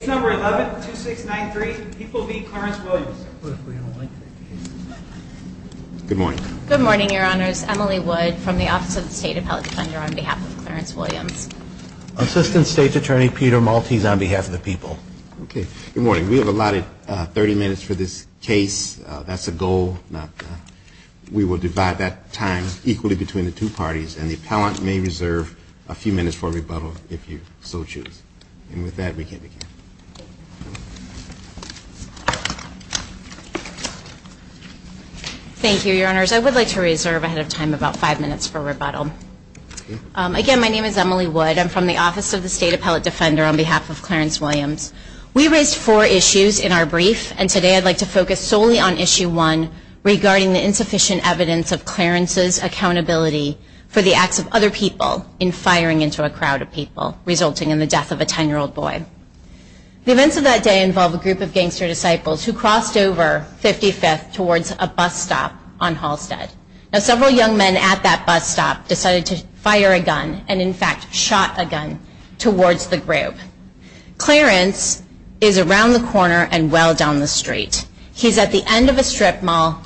Good morning, your honors. Emily Wood from the Office of the State Appellate Defender on behalf of Clarence Williams. Assistant State Attorney Peter Maltese on behalf of the people. Good morning. We have allotted 30 minutes for this case. That's a goal. We will divide that time equally between the two parties and the appellant may reserve a few minutes for rebuttal if you so choose. And with that, we can begin. Thank you, your honors. I would like to reserve ahead of time about five minutes for rebuttal. Again, my name is Emily Wood. I'm from the Office of the State Appellate Defender on behalf of Clarence Williams. We raised four issues in our brief and today I'd like to focus solely on issue one regarding the insufficient evidence of Clarence's accountability for the acts of other people in firing into a crowd of people resulting in the death of a 10-year-old boy. The events of that day involve a group of gangster disciples who crossed over 55th towards a bus stop on Halstead. Now several young men at that bus stop decided to fire a gun and in fact shot a gun towards the group. Clarence is around the corner and well down the street. He's at the end of a strip mall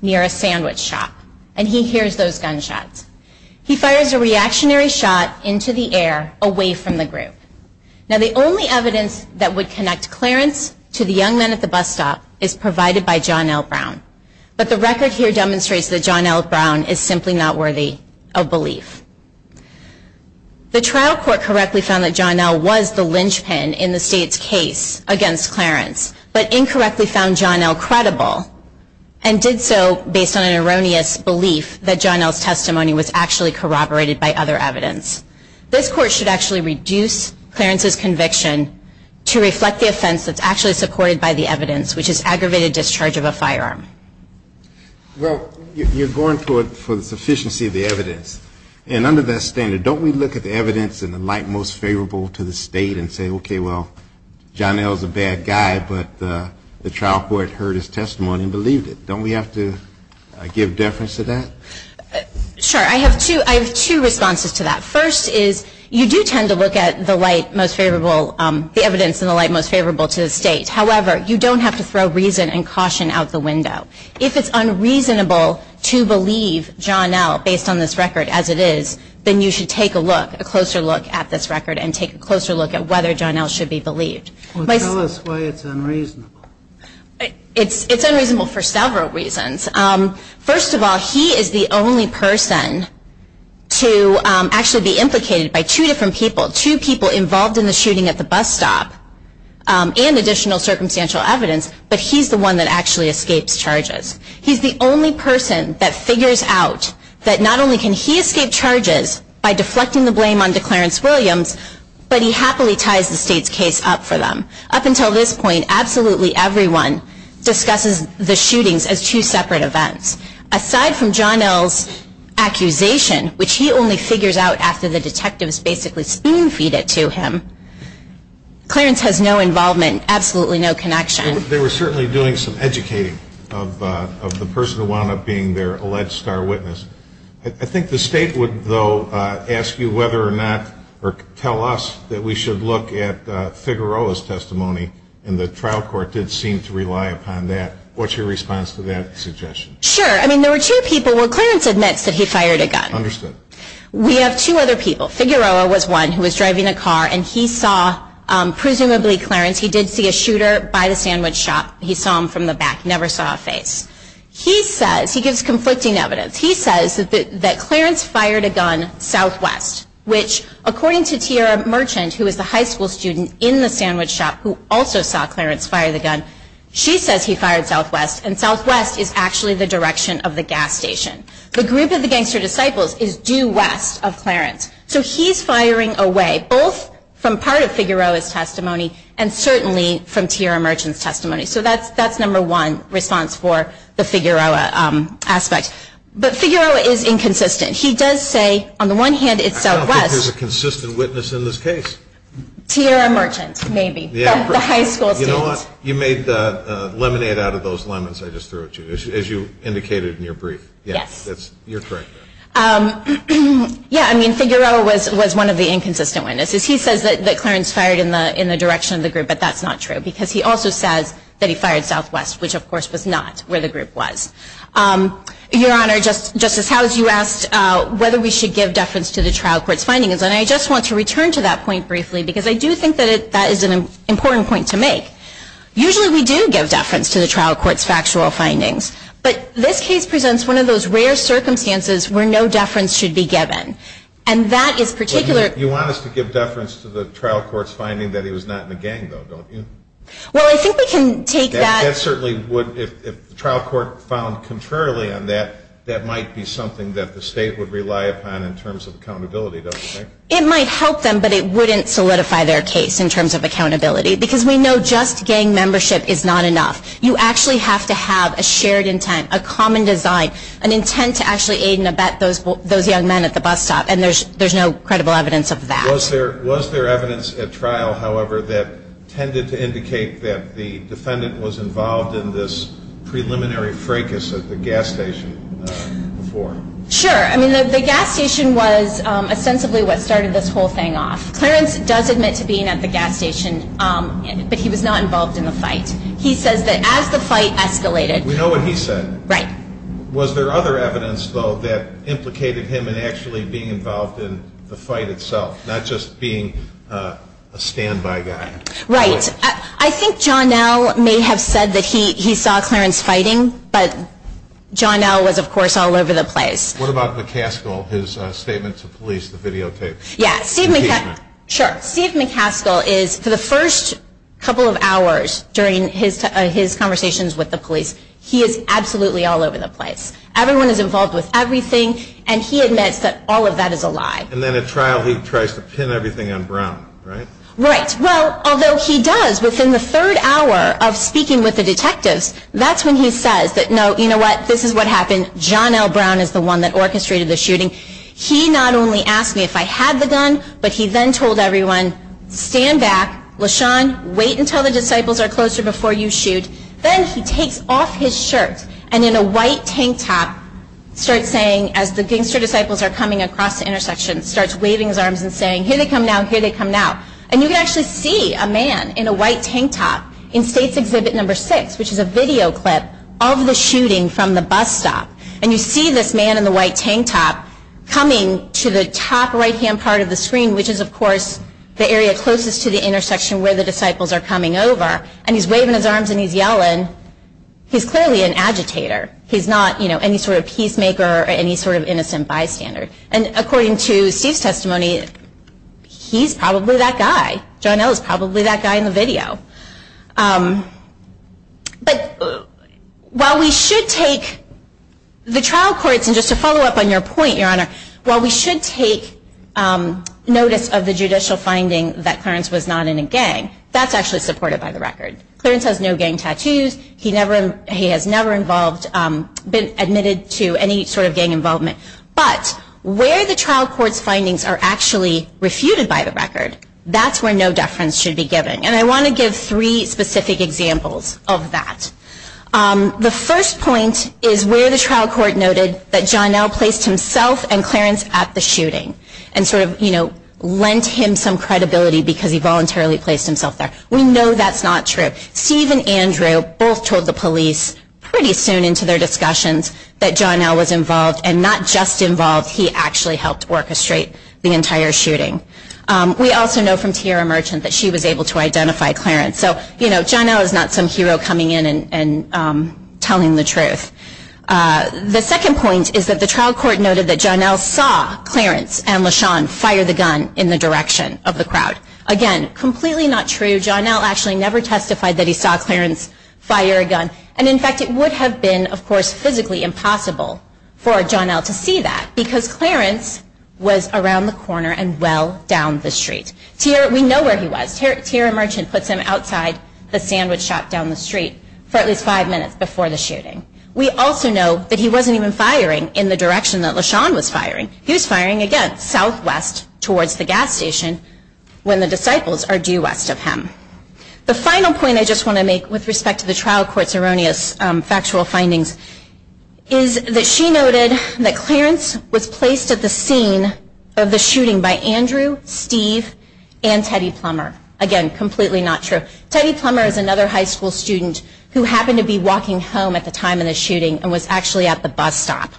near a sandwich shop and he hears those gunshots. He fires a reactionary shot into the air away from the group. Now the only evidence that would connect Clarence to the young men at the bus stop is provided by John L. Brown. But the record here demonstrates that John L. Brown is simply not worthy of belief. The trial court correctly found that John L. was the linchpin in the state's case against Clarence, but incorrectly found John L. credible and did so based on an erroneous belief that John L.'s testimony was actually corroborated by other evidence. This court should actually reduce Clarence's conviction to reflect the offense that's actually supported by the evidence, which is aggravated discharge of a firearm. Well, you're going for the sufficiency of the evidence. And under that standard, don't we look at the evidence and the light most favorable to the state and say, okay, well, John L. is a bad guy, but the trial court heard his testimony and believed it. Don't we have to give deference to that? Sure. I have two responses to that. First is you do tend to look at the light most favorable, the evidence in the light most favorable to the state. However, you don't have to throw reason and caution out the window. If it's unreasonable to believe John L. based on this record as it is, then you should take a look, a closer look at this record and take a closer look at whether John L. should be believed. Tell us why it's unreasonable. It's unreasonable for several reasons. First of all, he is the only person to actually be implicated by two different people, two people involved in the shooting at the bus stop and additional circumstantial evidence, but he's the one that actually escapes charges. He's the only person that figures out that not only can he escape charges by deflecting the blame on Declarence Williams, but he happily ties the state's case up for them. Up until this point, absolutely everyone discusses the shootings as two separate events. Aside from John L.'s accusation, which he only figures out after the detectives basically spin feed it to him, Clarence has no involvement, absolutely no connection. They were certainly doing some educating of the person who wound up being their alleged star witness. I think the state would, though, ask you whether or not or tell us that we should look at Figueroa's testimony, and the trial court did seem to rely upon that. What's your response to that suggestion? Sure. I mean, there were two people where Clarence admits that he fired a gun. Understood. We have two other people. Figueroa was one who was driving a car, and he saw presumably Clarence. He did see a shooter by the sandwich shop. He saw him from the back, never saw a face. He says, he gives conflicting evidence, he says that Clarence fired a gun southwest, which according to Tiara Merchant, who was the high school student in the sandwich shop who also saw Clarence fire the gun, she says he fired southwest, and southwest is actually the direction of the gas station. The group of the gangster disciples is due west of Clarence. So he's firing away both from part of Figueroa's testimony and certainly from Tiara Merchant's testimony. So that's number one response for the Figueroa aspect. But Figueroa is inconsistent. He does say, on the one hand, it's southwest. I don't think there's a consistent witness in this case. Tiara Merchant, maybe. You know what? You made lemonade out of those lemons I just threw at you, as you indicated in your brief. Yes. You're correct. Yeah, I mean, Figueroa was one of the inconsistent witnesses. He says that Clarence fired in the direction of the group, but that's not true, because he also says that he fired southwest, which of course was not where the group was. Your Honor, Justice Howes, you asked whether we should give deference to the trial court's findings, and I just want to return to that point briefly, because I do think that that is an important point to make. Usually we do give deference to the trial court's factual findings, but this case presents one of those rare circumstances where no deference should be given, and that is particular. You want us to give deference to the trial court's finding that he was not in a gang, though, don't you? Well, I think we can take that. That certainly would. If the trial court found contrarily on that, that might be something that the state would rely upon in terms of accountability, don't you think? It might help them, but it wouldn't solidify their case in terms of accountability, because we know just gang membership is not enough. You actually have to have a shared intent, a common design, an intent to actually aid and abet those young men at the bus stop, and there's no credible evidence of that. Was there evidence at trial, however, that tended to indicate that the defendant was involved in this preliminary fracas at the gas station before? Sure. I mean, the gas station was ostensibly what started this whole thing off. Clarence does admit to being at the gas station, but he was not involved in the fight. He says that as the fight escalated. We know what he said. Right. Was there other evidence, though, that implicated him in actually being involved in the fight itself, not just being a standby guy? Right. I think John L. may have said that he saw Clarence fighting, but John L. was, of course, all over the place. What about McCaskill, his statement to police, the videotape? Yes. Steve McCaskill is, for the first couple of hours during his conversations with the police, he is absolutely all over the place. Everyone is involved with everything, and he admits that all of that is a lie. And then at trial, he tries to pin everything on Brown, right? Right. Well, although he does, within the third hour of speaking with the detectives, that's when he says that, no, you know what, this is what happened. John L. Brown is the one that orchestrated the shooting. He not only asked me if I had the gun, but he then told everyone, stand back, LaShawn, wait until the disciples are closer before you shoot. Then he takes off his shirt and, in a white tank top, starts saying, as the gangster disciples are coming across the intersection, starts waving his arms and saying, here they come now, here they come now. And you can actually see a man in a white tank top in State's Exhibit No. 6, which is a video clip of the shooting from the bus stop. And you see this man in the white tank top coming to the top right-hand part of the screen, which is, of course, the area closest to the intersection where the disciples are coming over. And he's waving his arms and he's yelling. He's clearly an agitator. He's not any sort of peacemaker or any sort of innocent bystander. And according to Steve's testimony, he's probably that guy. John L. is probably that guy in the video. But while we should take the trial courts, and just to follow up on your point, Your Honor, while we should take notice of the judicial finding that Clarence was not in a gang, that's actually supported by the record. Clarence has no gang tattoos. He has never been admitted to any sort of gang involvement. But where the trial court's findings are actually refuted by the record, that's where no deference should be given. And I want to give three specific examples of that. The first point is where the trial court noted that John L. placed himself and Clarence at the shooting and lent him some credibility because he voluntarily placed himself there. We know that's not true. Steve and Andrew both told the police pretty soon into their discussions that John L. was involved, and not just involved, he actually helped orchestrate the entire shooting. We also know from Tierra Merchant that she was able to identify Clarence. So, you know, John L. is not some hero coming in and telling the truth. The second point is that the trial court noted that John L. saw Clarence and LaShawn fire the gun in the direction of the crowd. Again, completely not true. John L. actually never testified that he saw Clarence fire a gun. And, in fact, it would have been, of course, physically impossible for John L. to see that because Clarence was around the corner and well down the street. We know where he was. Tierra Merchant puts him outside the sandwich shop down the street for at least five minutes before the shooting. We also know that he wasn't even firing in the direction that LaShawn was firing. He was firing, again, southwest towards the gas station when the disciples are due west of him. The final point I just want to make with respect to the trial court's erroneous factual findings is that she noted that Clarence was placed at the scene of the shooting by Andrew, Steve, and Teddy Plummer. Again, completely not true. Teddy Plummer is another high school student who happened to be walking home at the time of the shooting and was actually at the bus stop.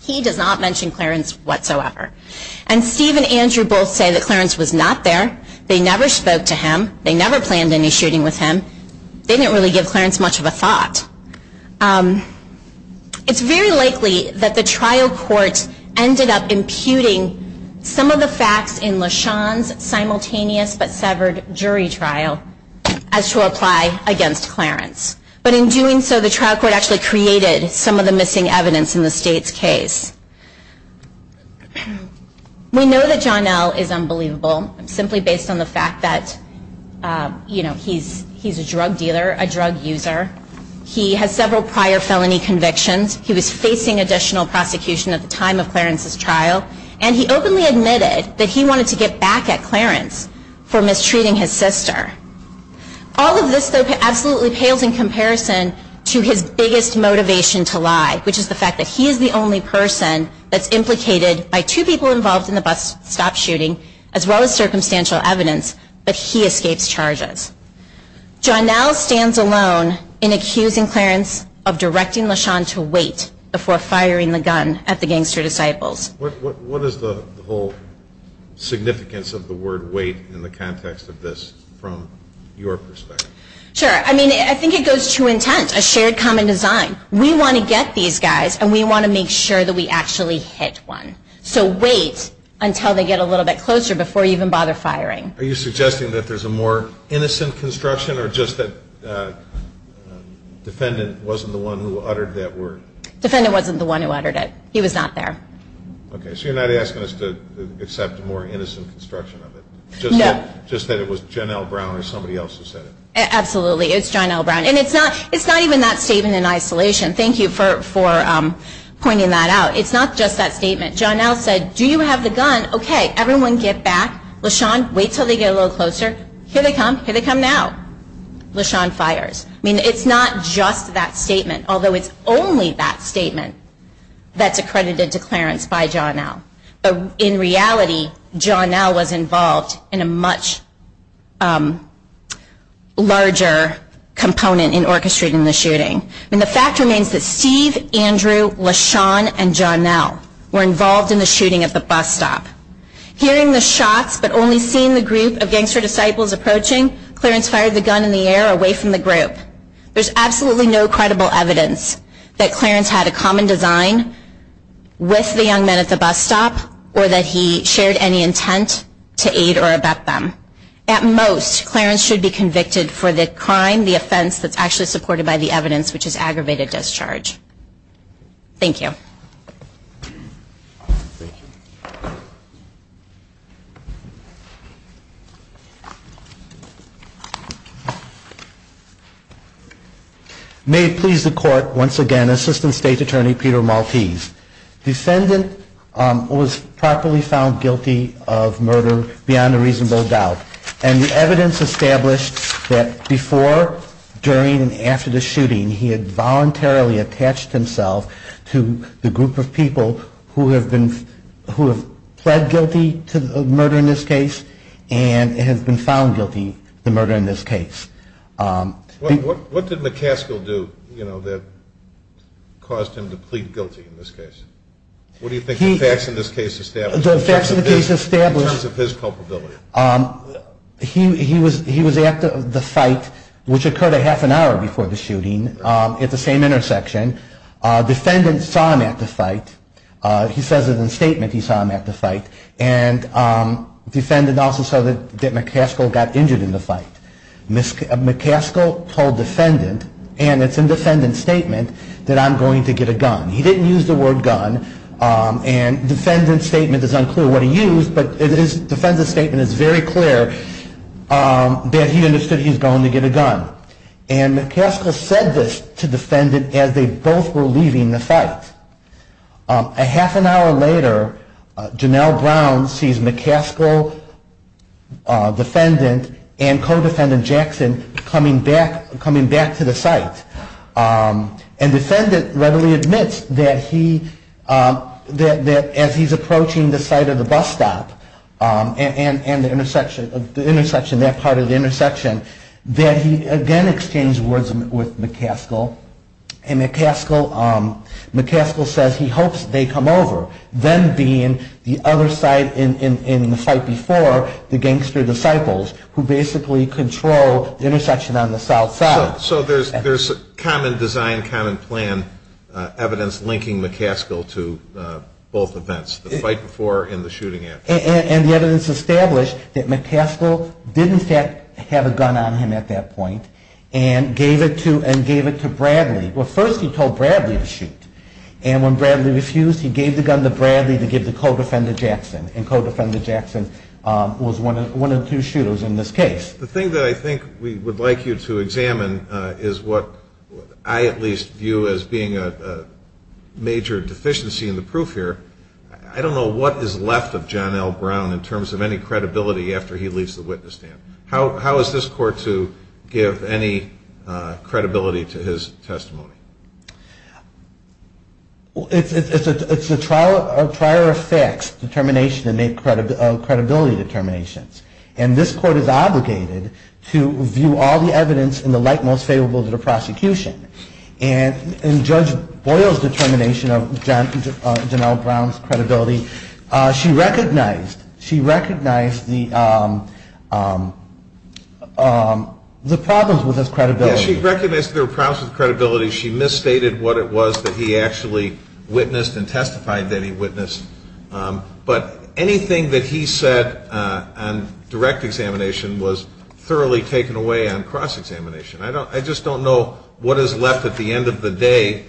He does not mention Clarence whatsoever. And Steve and Andrew both say that Clarence was not there. They never spoke to him. They never planned any shooting with him. They didn't really give Clarence much of a thought. It's very likely that the trial court ended up imputing some of the facts in LaShawn's simultaneous but severed jury trial as to apply against Clarence. But in doing so, the trial court actually created some of the missing evidence in the state's case. We know that John L. is unbelievable simply based on the fact that he's a drug dealer, a drug user. He has several prior felony convictions. He was facing additional prosecution at the time of Clarence's trial. And he openly admitted that he wanted to get back at Clarence for mistreating his sister. All of this, though, absolutely pales in comparison to his biggest motivation to lie, which is the fact that he is the only person that's implicated by two people involved in the bus stop shooting as well as circumstantial evidence, but he escapes charges. John L. stands alone in accusing Clarence of directing LaShawn to wait before firing the gun at the gangster disciples. What is the whole significance of the word wait in the context of this from your perspective? Sure. I mean, I think it goes to intent, a shared common design. We want to get these guys, and we want to make sure that we actually hit one. So wait until they get a little bit closer before you even bother firing. Are you suggesting that there's a more innocent construction or just that defendant wasn't the one who uttered that word? Defendant wasn't the one who uttered it. He was not there. Okay. So you're not asking us to accept a more innocent construction of it? No. Just that it was John L. Brown or somebody else who said it? Absolutely. It's John L. Brown. And it's not even that statement in isolation. Thank you for pointing that out. It's not just that statement. John L. said, do you have the gun? Okay. Everyone get back. LaShawn, wait until they get a little closer. Here they come. Here they come now. LaShawn fires. I mean, it's not just that statement, although it's only that statement that's accredited to Clarence by John L. In reality, John L. was involved in a much larger component in orchestrating the shooting. And the fact remains that Steve, Andrew, LaShawn, and John L. were involved in the shooting at the bus stop. Hearing the shots but only seeing the group of gangster disciples approaching, Clarence fired the gun in the air away from the group. There's absolutely no credible evidence that Clarence had a common design with the young men at the bus stop or that he shared any intent to aid or abet them. At most, Clarence should be convicted for the crime, the offense, that's actually supported by the evidence, which is aggravated discharge. Thank you. May it please the Court, once again, Assistant State Attorney Peter Maltese. Defendant was properly found guilty of murder beyond a reasonable doubt. And the evidence established that before, during, and after the shooting, he had voluntarily attached himself to the group of people who have pled guilty to the murder in this case and has been found guilty of the murder in this case. What did McCaskill do that caused him to plead guilty in this case? What do you think the facts in this case establish? In terms of his culpability. He was at the fight, which occurred a half an hour before the shooting, at the same intersection. Defendant saw him at the fight. He says in the statement he saw him at the fight. And defendant also saw that McCaskill got injured in the fight. McCaskill told defendant, and it's in defendant's statement, that I'm going to get a gun. He didn't use the word gun, and defendant's statement is unclear what he used, but his defendant's statement is very clear that he understood he was going to get a gun. And McCaskill said this to defendant as they both were leaving the fight. A half an hour later, Janelle Brown sees McCaskill, defendant, and co-defendant Jackson coming back to the site. And defendant readily admits that as he's approaching the site of the bus stop and that part of the intersection, that he again exchanged words with McCaskill. And McCaskill says he hopes they come over, them being the other side in the fight before, the gangster disciples who basically control the intersection on the south side. So there's common design, common plan evidence linking McCaskill to both events, the fight before and the shooting after. And the evidence established that McCaskill did in fact have a gun on him at that point and gave it to Bradley. Well, first he told Bradley to shoot. And when Bradley refused, he gave the gun to Bradley to give to co-defendant Jackson. And co-defendant Jackson was one of two shooters in this case. The thing that I think we would like you to examine is what I at least view as being a major deficiency in the proof here. I don't know what is left of Janelle Brown in terms of any credibility after he leaves the witness stand. How is this court to give any credibility to his testimony? It's a trial of prior effects determination and credibility determinations. And this court is obligated to view all the evidence in the light most favorable to the prosecution. And Judge Boyle's determination of Janelle Brown's credibility, she recognized the problems with this credibility. Yes, she recognized there were problems with credibility. She misstated what it was that he actually witnessed and testified that he witnessed. But anything that he said on direct examination was thoroughly taken away on cross-examination. I just don't know what is left at the end of the day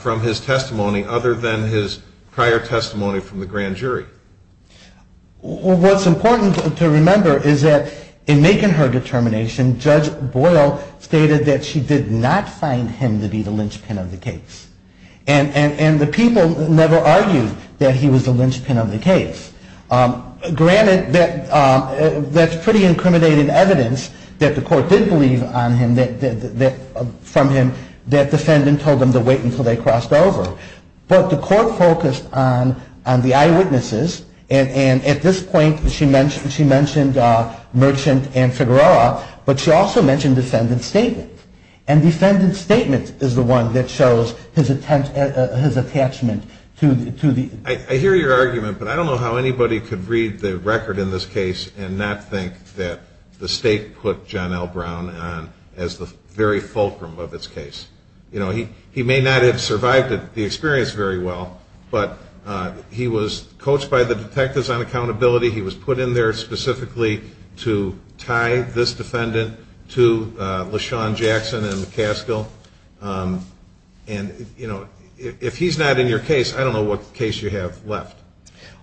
from his testimony other than his prior testimony from the grand jury. What's important to remember is that in making her determination, Judge Boyle stated that she did not find him to be the linchpin of the case. And the people never argued that he was the linchpin of the case. Granted, that's pretty incriminating evidence that the court did believe from him that defendant told them to wait until they crossed over. But the court focused on the eyewitnesses. And at this point, she mentioned Merchant and Figueroa, but she also mentioned defendant's statement. And defendant's statement is the one that shows his attachment to the... I hear your argument, but I don't know how anybody could read the record in this case and not think that the state put Janelle Brown on as the very fulcrum of its case. You know, he may not have survived the experience very well, but he was coached by the detectives on accountability. He was put in there specifically to tie this defendant to LaShawn Jackson and McCaskill. And, you know, if he's not in your case, I don't know what case you have left.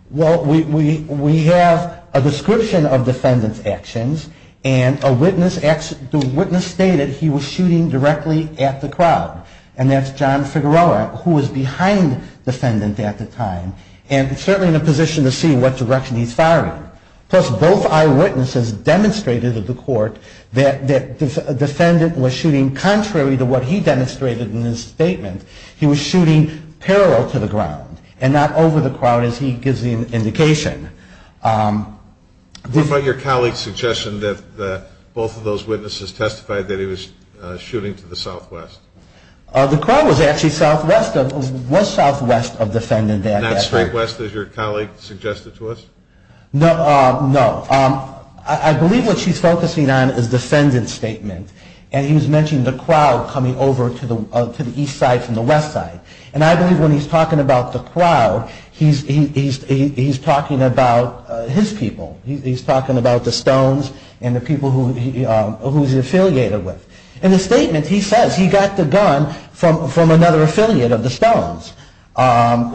Well, we have a description of defendant's actions, and a witness... The witness stated he was shooting directly at the crowd. And that's John Figueroa, who was behind defendant at the time. And certainly in a position to see what direction he's firing. Plus, both eyewitnesses demonstrated to the court that defendant was shooting contrary to what he demonstrated in his statement. He was shooting parallel to the ground and not over the crowd, as he gives the indication. What about your colleague's suggestion that both of those witnesses testified that he was shooting to the southwest? The crowd was actually southwest of defendant. Not straight west, as your colleague suggested to us? No. I believe what she's focusing on is defendant's statement. And he was mentioning the crowd coming over to the east side from the west side. And I believe when he's talking about the crowd, he's talking about his people. He's talking about the Stones and the people who he's affiliated with. In the statement, he says he got the gun from another affiliate of the Stones.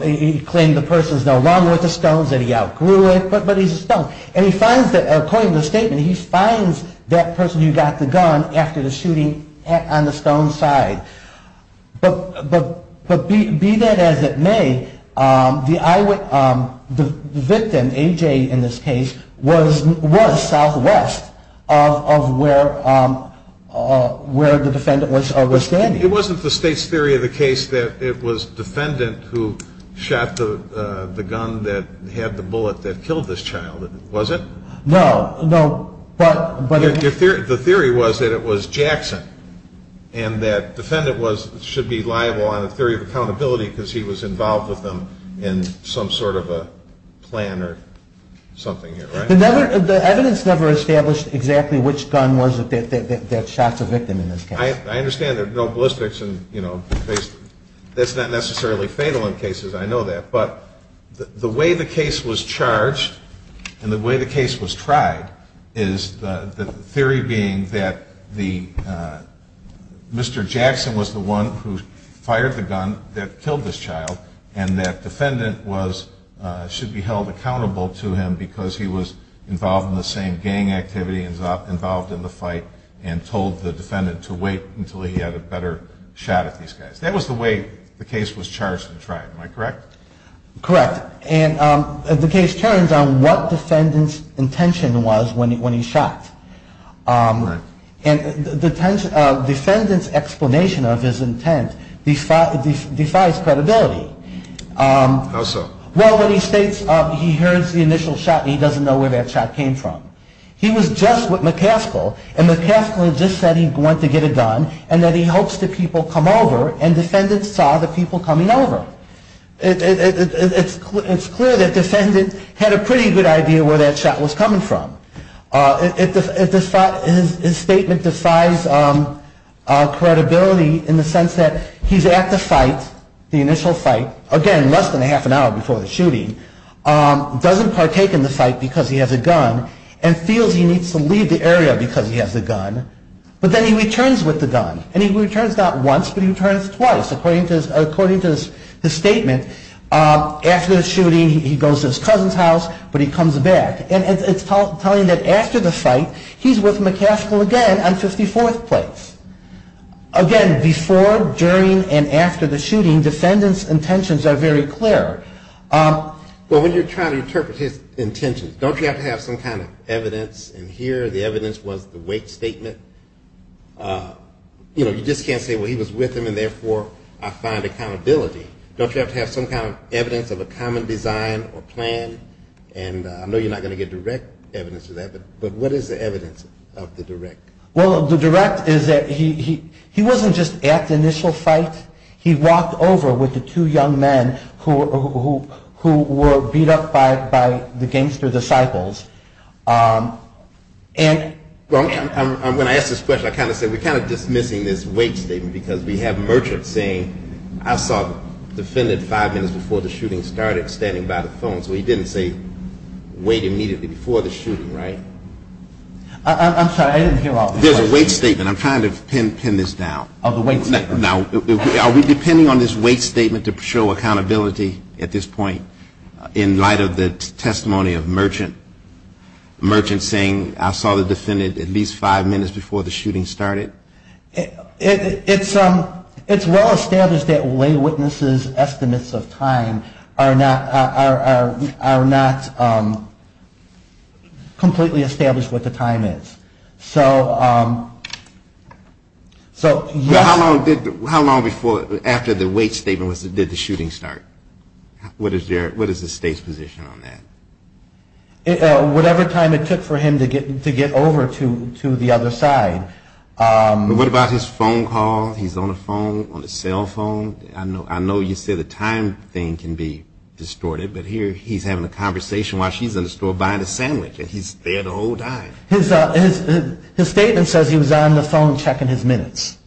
He claimed the person's no longer with the Stones and he outgrew it, but he's a Stone. And he finds that, according to the statement, he finds that person who got the gun after the shooting on the Stones' side. But be that as it may, the victim, AJ in this case, was southwest of where... where the defendant was standing. It wasn't the state's theory of the case that it was defendant who shot the gun that had the bullet that killed this child, was it? No, no, but... The theory was that it was Jackson and that defendant should be liable on a theory of accountability because he was involved with them in some sort of a plan or something, right? The evidence never established exactly which gun was it that shot the victim in this case. I understand there's no ballistics and, you know, that's not necessarily fatal in cases. I know that. But the way the case was charged and the way the case was tried is the theory being that the... Mr. Jackson was the one who fired the gun that killed this child and that defendant was... should be held accountable to him because he was involved in the same gang activity, involved in the fight, and told the defendant to wait until he had a better shot at these guys. That was the way the case was charged and tried, am I correct? Correct. And the case turns on what defendant's intention was when he shot. Correct. And the defendant's explanation of his intent defies credibility. How so? Well, when he states he heard the initial shot and he doesn't know where that shot came from. He was just with McCaskill and McCaskill just said he went to get a gun and that he hopes the people come over and defendant saw the people coming over. It's clear that defendant had a pretty good idea where that shot was coming from. His statement defies credibility in the sense that he's at the fight, the initial fight, again less than a half an hour before the shooting, doesn't partake in the fight because he has a gun and feels he needs to leave the area because he has a gun but then he returns with the gun and he returns not once but he returns twice according to his statement. After the shooting he goes to his cousin's house but he comes back. And it's telling that after the fight he's with McCaskill again on 54th Place. Again, before, during and after the shooting, defendant's intentions are very clear. Well, when you're trying to interpret his intentions, don't you have to have some kind of evidence in here? The evidence was the weight statement? You know, you just can't say, well, he was with him and therefore I find accountability. Don't you have to have some kind of evidence of a common design or plan? And I know you're not going to get direct evidence of that, but what is the evidence of the direct? Well, the direct is that he wasn't just at the initial fight. He walked over with the two young men who were beat up by the gangster disciples. And when I asked this question, I kind of said we're kind of dismissing this weight statement because we have Merchant saying I saw the defendant five minutes before the shooting started standing by the phone. So he didn't say wait immediately before the shooting, right? I'm sorry. I didn't hear all the questions. There's a weight statement. I'm trying to pin this down. Oh, the weight statement. Now, are we depending on this weight statement to show accountability at this point in light of the testimony of Merchant? Merchant saying I saw the defendant at least five minutes before the shooting started? It's well established that lay witnesses' estimates of time are not completely established what the time is. So yes. How long after the weight statement did the shooting start? What is the state's position on that? Whatever time it took for him to get over to the other side. What about his phone call? He's on the phone, on the cell phone. I know you said the time thing can be distorted, but here he's having a conversation while she's in the store buying a sandwich, and he's there the whole time. His statement says he was on the phone checking his minutes.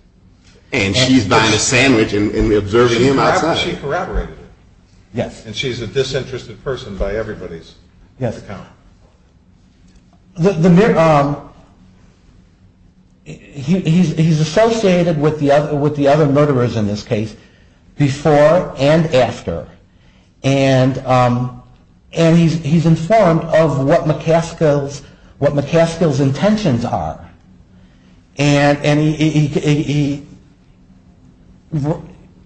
And she's buying a sandwich and observing him outside. She corroborated it. Yes. And she's a disinterested person by everybody's account. He's associated with the other murderers in this case before and after. And he's informed of what McCaskill's intentions are. And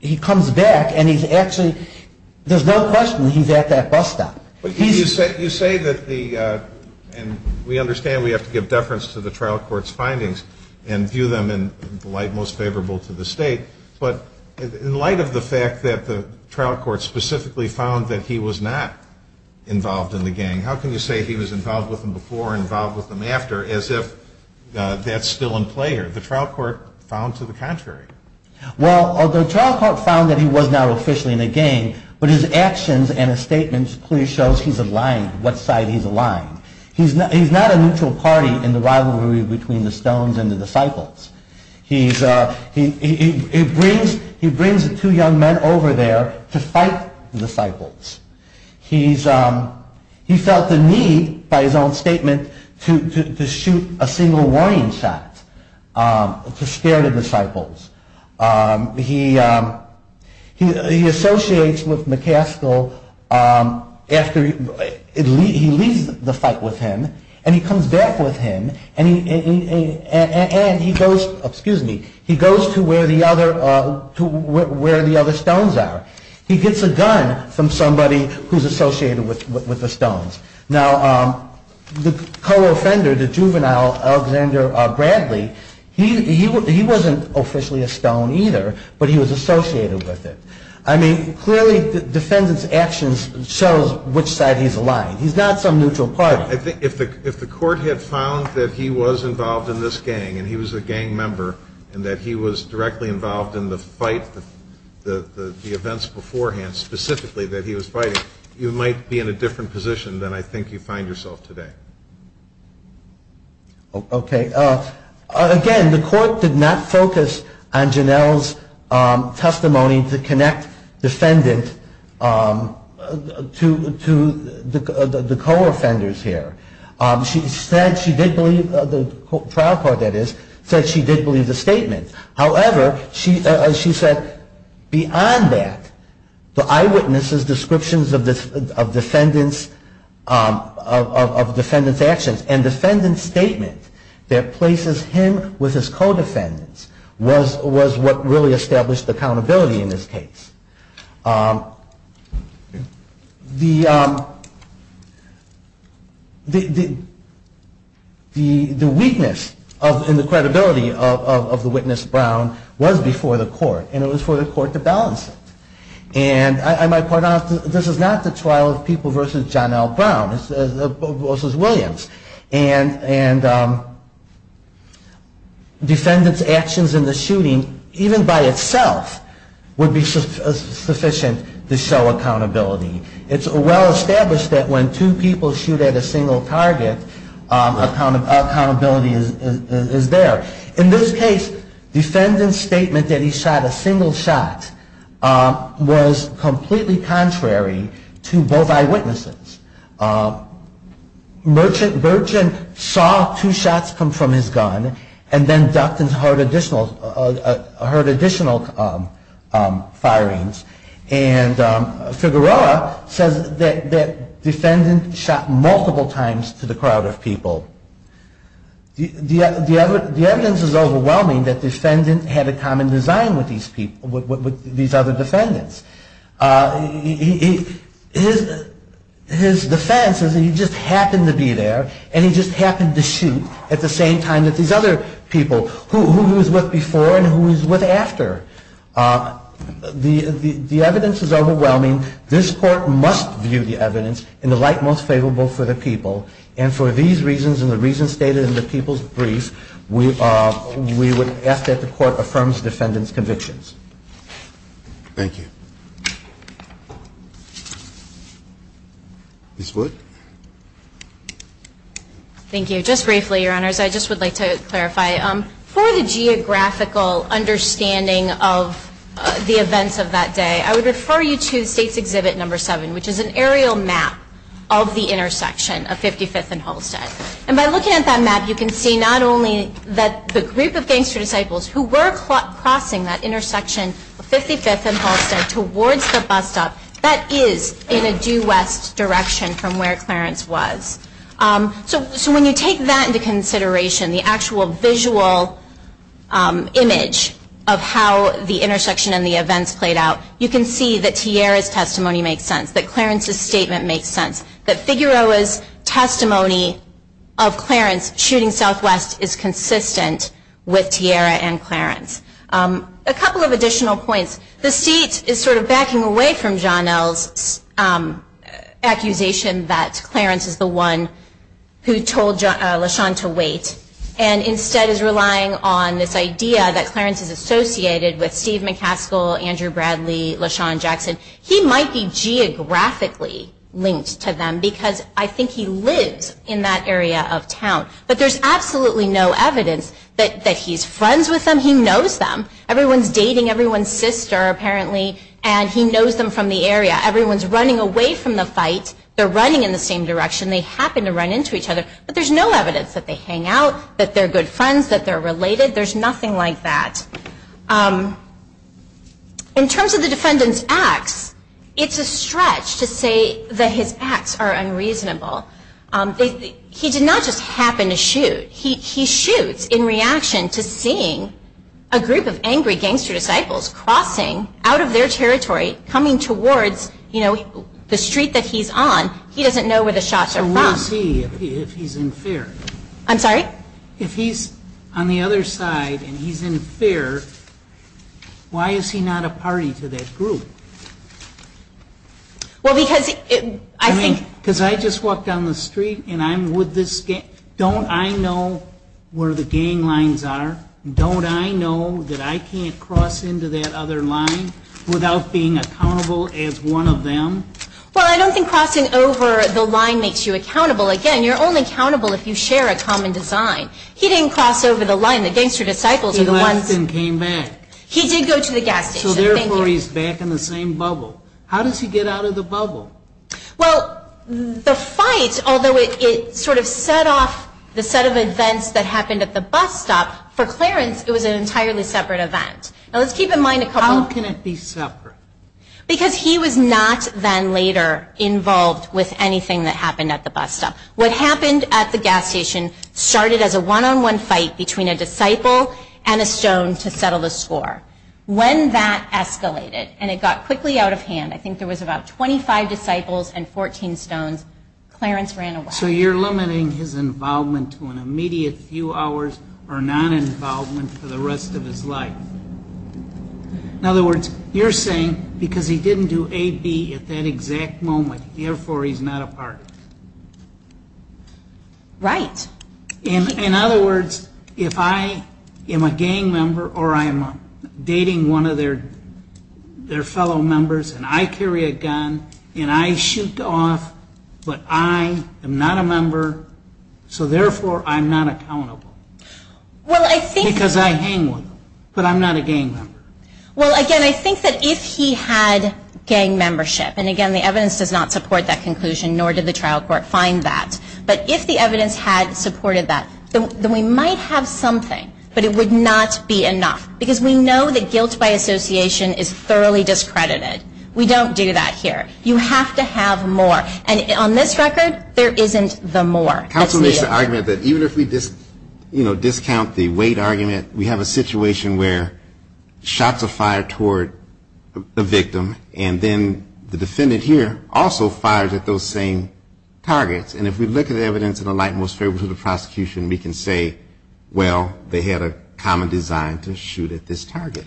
he comes back and he's actually, there's no question he's at that bus stop. You say that the, and we understand we have to give deference to the trial court's findings and view them in the light most favorable to the state, but in light of the fact that the trial court specifically found that he was not involved in the gang, how can you say he was involved with them before and involved with them after as if that's still in play here? The trial court found to the contrary. Well, the trial court found that he was not officially in the gang, but his actions and his statements clearly shows he's aligned, what side he's aligned. He's not a neutral party in the rivalry between the Stones and the Disciples. He brings the two young men over there to fight the Disciples. He's, he felt the need by his own statement to shoot a single warning shot to scare the Disciples. He associates with McCaskill after he leaves the fight with him and he comes back with him and he goes, excuse me, he goes to where the other Stones are. He gets a gun from somebody who's associated with the Stones. Now, the co-offender, the juvenile Alexander Bradley, he wasn't officially a Stone either, but he was associated with it. I mean, clearly the defendant's actions shows which side he's aligned. He's not some neutral party. If the court had found that he was involved in this gang and he was a gang member and that he was directly involved in the fight, the events beforehand, specifically that he was fighting, you might be in a different position than I think you find yourself today. Okay. Again, the court did not focus on Janelle's testimony to connect defendant to the co-offenders here. She said she did believe, the trial court that is, said she did believe the statement. However, she said beyond that, the eyewitness's descriptions of defendant's actions and defendant's statement that places him with his co-defendants was what really established accountability in this case. The weakness and the credibility of the witness Brown was before the court and it was for the court to balance it. And I might point out, this is not the trial of people versus Janelle Brown versus Williams. And defendant's actions in the shooting, even by itself, would be sufficient to show accountability. It's well established that when two people shoot at a single target, accountability is there. In this case, defendant's statement that he shot a single shot was completely contrary to both eyewitnesses. Merchant saw two shots come from his gun and then ducked and heard additional firings. And Figueroa says that defendant shot multiple times to the crowd of people. The evidence is overwhelming that defendant had a common design with these other defendants. His defense is that he just happened to be there and he just happened to shoot at the same time that these other people, who he was with before and who he was with after. The evidence is overwhelming. This court must view the evidence in the light most favorable for the people. And for these reasons and the reasons stated in the people's brief, Thank you. Ms. Wood. Thank you. Just briefly, Your Honors, I just would like to clarify. For the geographical understanding of the events of that day, I would refer you to the State's Exhibit No. 7, which is an aerial map of the intersection of 55th and Holstead. And by looking at that map, you can see not only that the group of gangster disciples who were crossing that intersection of 55th and Holstead towards the bus stop, that is in a due west direction from where Clarence was. So when you take that into consideration, the actual visual image of how the intersection and the events played out, you can see that Tierra's testimony makes sense, that Clarence's statement makes sense, that Figueroa's testimony of Clarence shooting southwest is consistent with Tierra and Clarence. A couple of additional points. The State is sort of backing away from John L's accusation that Clarence is the one who told LaShawn to wait and instead is relying on this idea that Clarence is associated with Steve McCaskill, Andrew Bradley, LaShawn Jackson. He might be geographically linked to them because I think he lives in that area of town. But there's absolutely no evidence that he's friends with them. He knows them. Everyone's dating everyone's sister, apparently, and he knows them from the area. Everyone's running away from the fight. They're running in the same direction. They happen to run into each other. But there's no evidence that they hang out, that they're good friends, that they're related. There's nothing like that. In terms of the defendant's acts, it's a stretch to say that his acts are unreasonable. He did not just happen to shoot. He shoots in reaction to seeing a group of angry gangster disciples crossing out of their territory, coming towards the street that he's on. He doesn't know where the shots are from. So where is he if he's in fear? I'm sorry? If he's on the other side and he's in fear, why is he not a party to that group? Because I just walked down the street and I'm with this gang. Don't I know where the gang lines are? Don't I know that I can't cross into that other line without being accountable as one of them? Well, I don't think crossing over the line makes you accountable. Again, you're only accountable if you share a common design. He didn't cross over the line. The gangster disciples are the ones. He left and came back. He did go to the gas station. So therefore he's back in the same bubble. How does he get out of the bubble? Well, the fight, although it sort of set off the set of events that happened at the bus stop, for Clarence it was an entirely separate event. Now, let's keep in mind a couple. How can it be separate? Because he was not then later involved with anything that happened at the bus stop. What happened at the gas station started as a one-on-one fight between a disciple and a stone to settle the score. When that escalated and it got quickly out of hand, I think there was about 25 disciples and 14 stones, Clarence ran away. So you're limiting his involvement to an immediate few hours or non-involvement for the rest of his life. In other words, you're saying because he didn't do AB at that exact moment, therefore he's not a part of it. Right. In other words, if I am a gang member or I am dating one of their fellow members and I carry a gun and I shoot off, but I am not a member, so therefore I'm not accountable. Because I hang with them, but I'm not a gang member. Well, again, I think that if he had gang membership, and again the evidence does not support that conclusion nor did the trial court find that, but if the evidence had supported that, then we might have something, but it would not be enough because we know that guilt by association is thoroughly discredited. We don't do that here. You have to have more. And on this record, there isn't the more. Counsel makes the argument that even if we discount the weight argument, we have a situation where shots are fired toward the victim and then the defendant here also fires at those same targets. And if we look at the evidence in the light and most favorable to the prosecution, we can say, well, they had a common design to shoot at this target.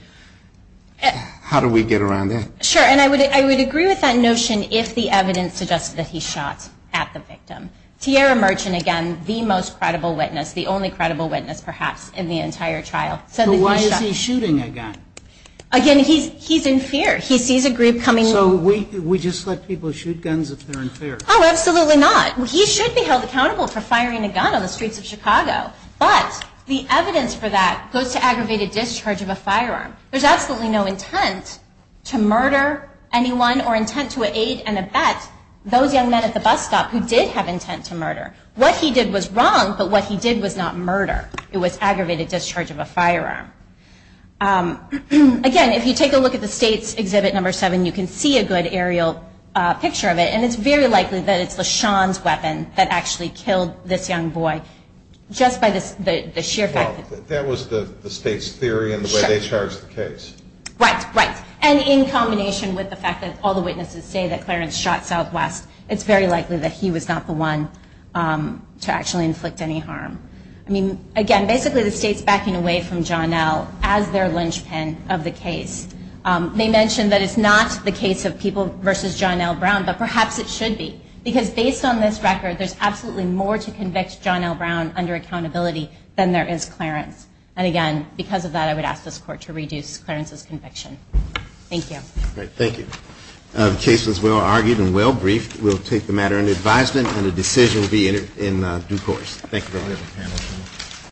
How do we get around that? Sure, and I would agree with that notion if the evidence suggested that he shot at the victim. Tiara Merchant, again, the most credible witness, the only credible witness perhaps in the entire trial. So why is he shooting a gun? Again, he's in fear. He sees a group coming. So we just let people shoot guns if they're in fear? Oh, absolutely not. He should be held accountable for firing a gun on the streets of Chicago, but the evidence for that goes to aggravated discharge of a firearm. There's absolutely no intent to murder anyone or intent to aid and abet those young men at the bus stop who did have intent to murder. What he did was wrong, but what he did was not murder. It was aggravated discharge of a firearm. Again, if you take a look at the State's Exhibit Number 7, you can see a good aerial picture of it, and it's very likely that it's LaShawn's weapon that actually killed this young boy just by the sheer fact that Well, that was the State's theory and the way they charged the case. Right, right. And in combination with the fact that all the witnesses say that Clarence shot Southwest, it's very likely that he was not the one to actually inflict any harm. I mean, again, basically the State's backing away from John L. as their linchpin of the case. They mentioned that it's not the case of people versus John L. Brown, but perhaps it should be, because based on this record, there's absolutely more to convict John L. Brown under accountability than there is Clarence. And again, because of that, I would ask this Court to reduce Clarence's conviction. Thank you. Thank you. The case was well-argued and well-briefed. We'll take the matter into advisement, and a decision will be in due course. Thank you very much.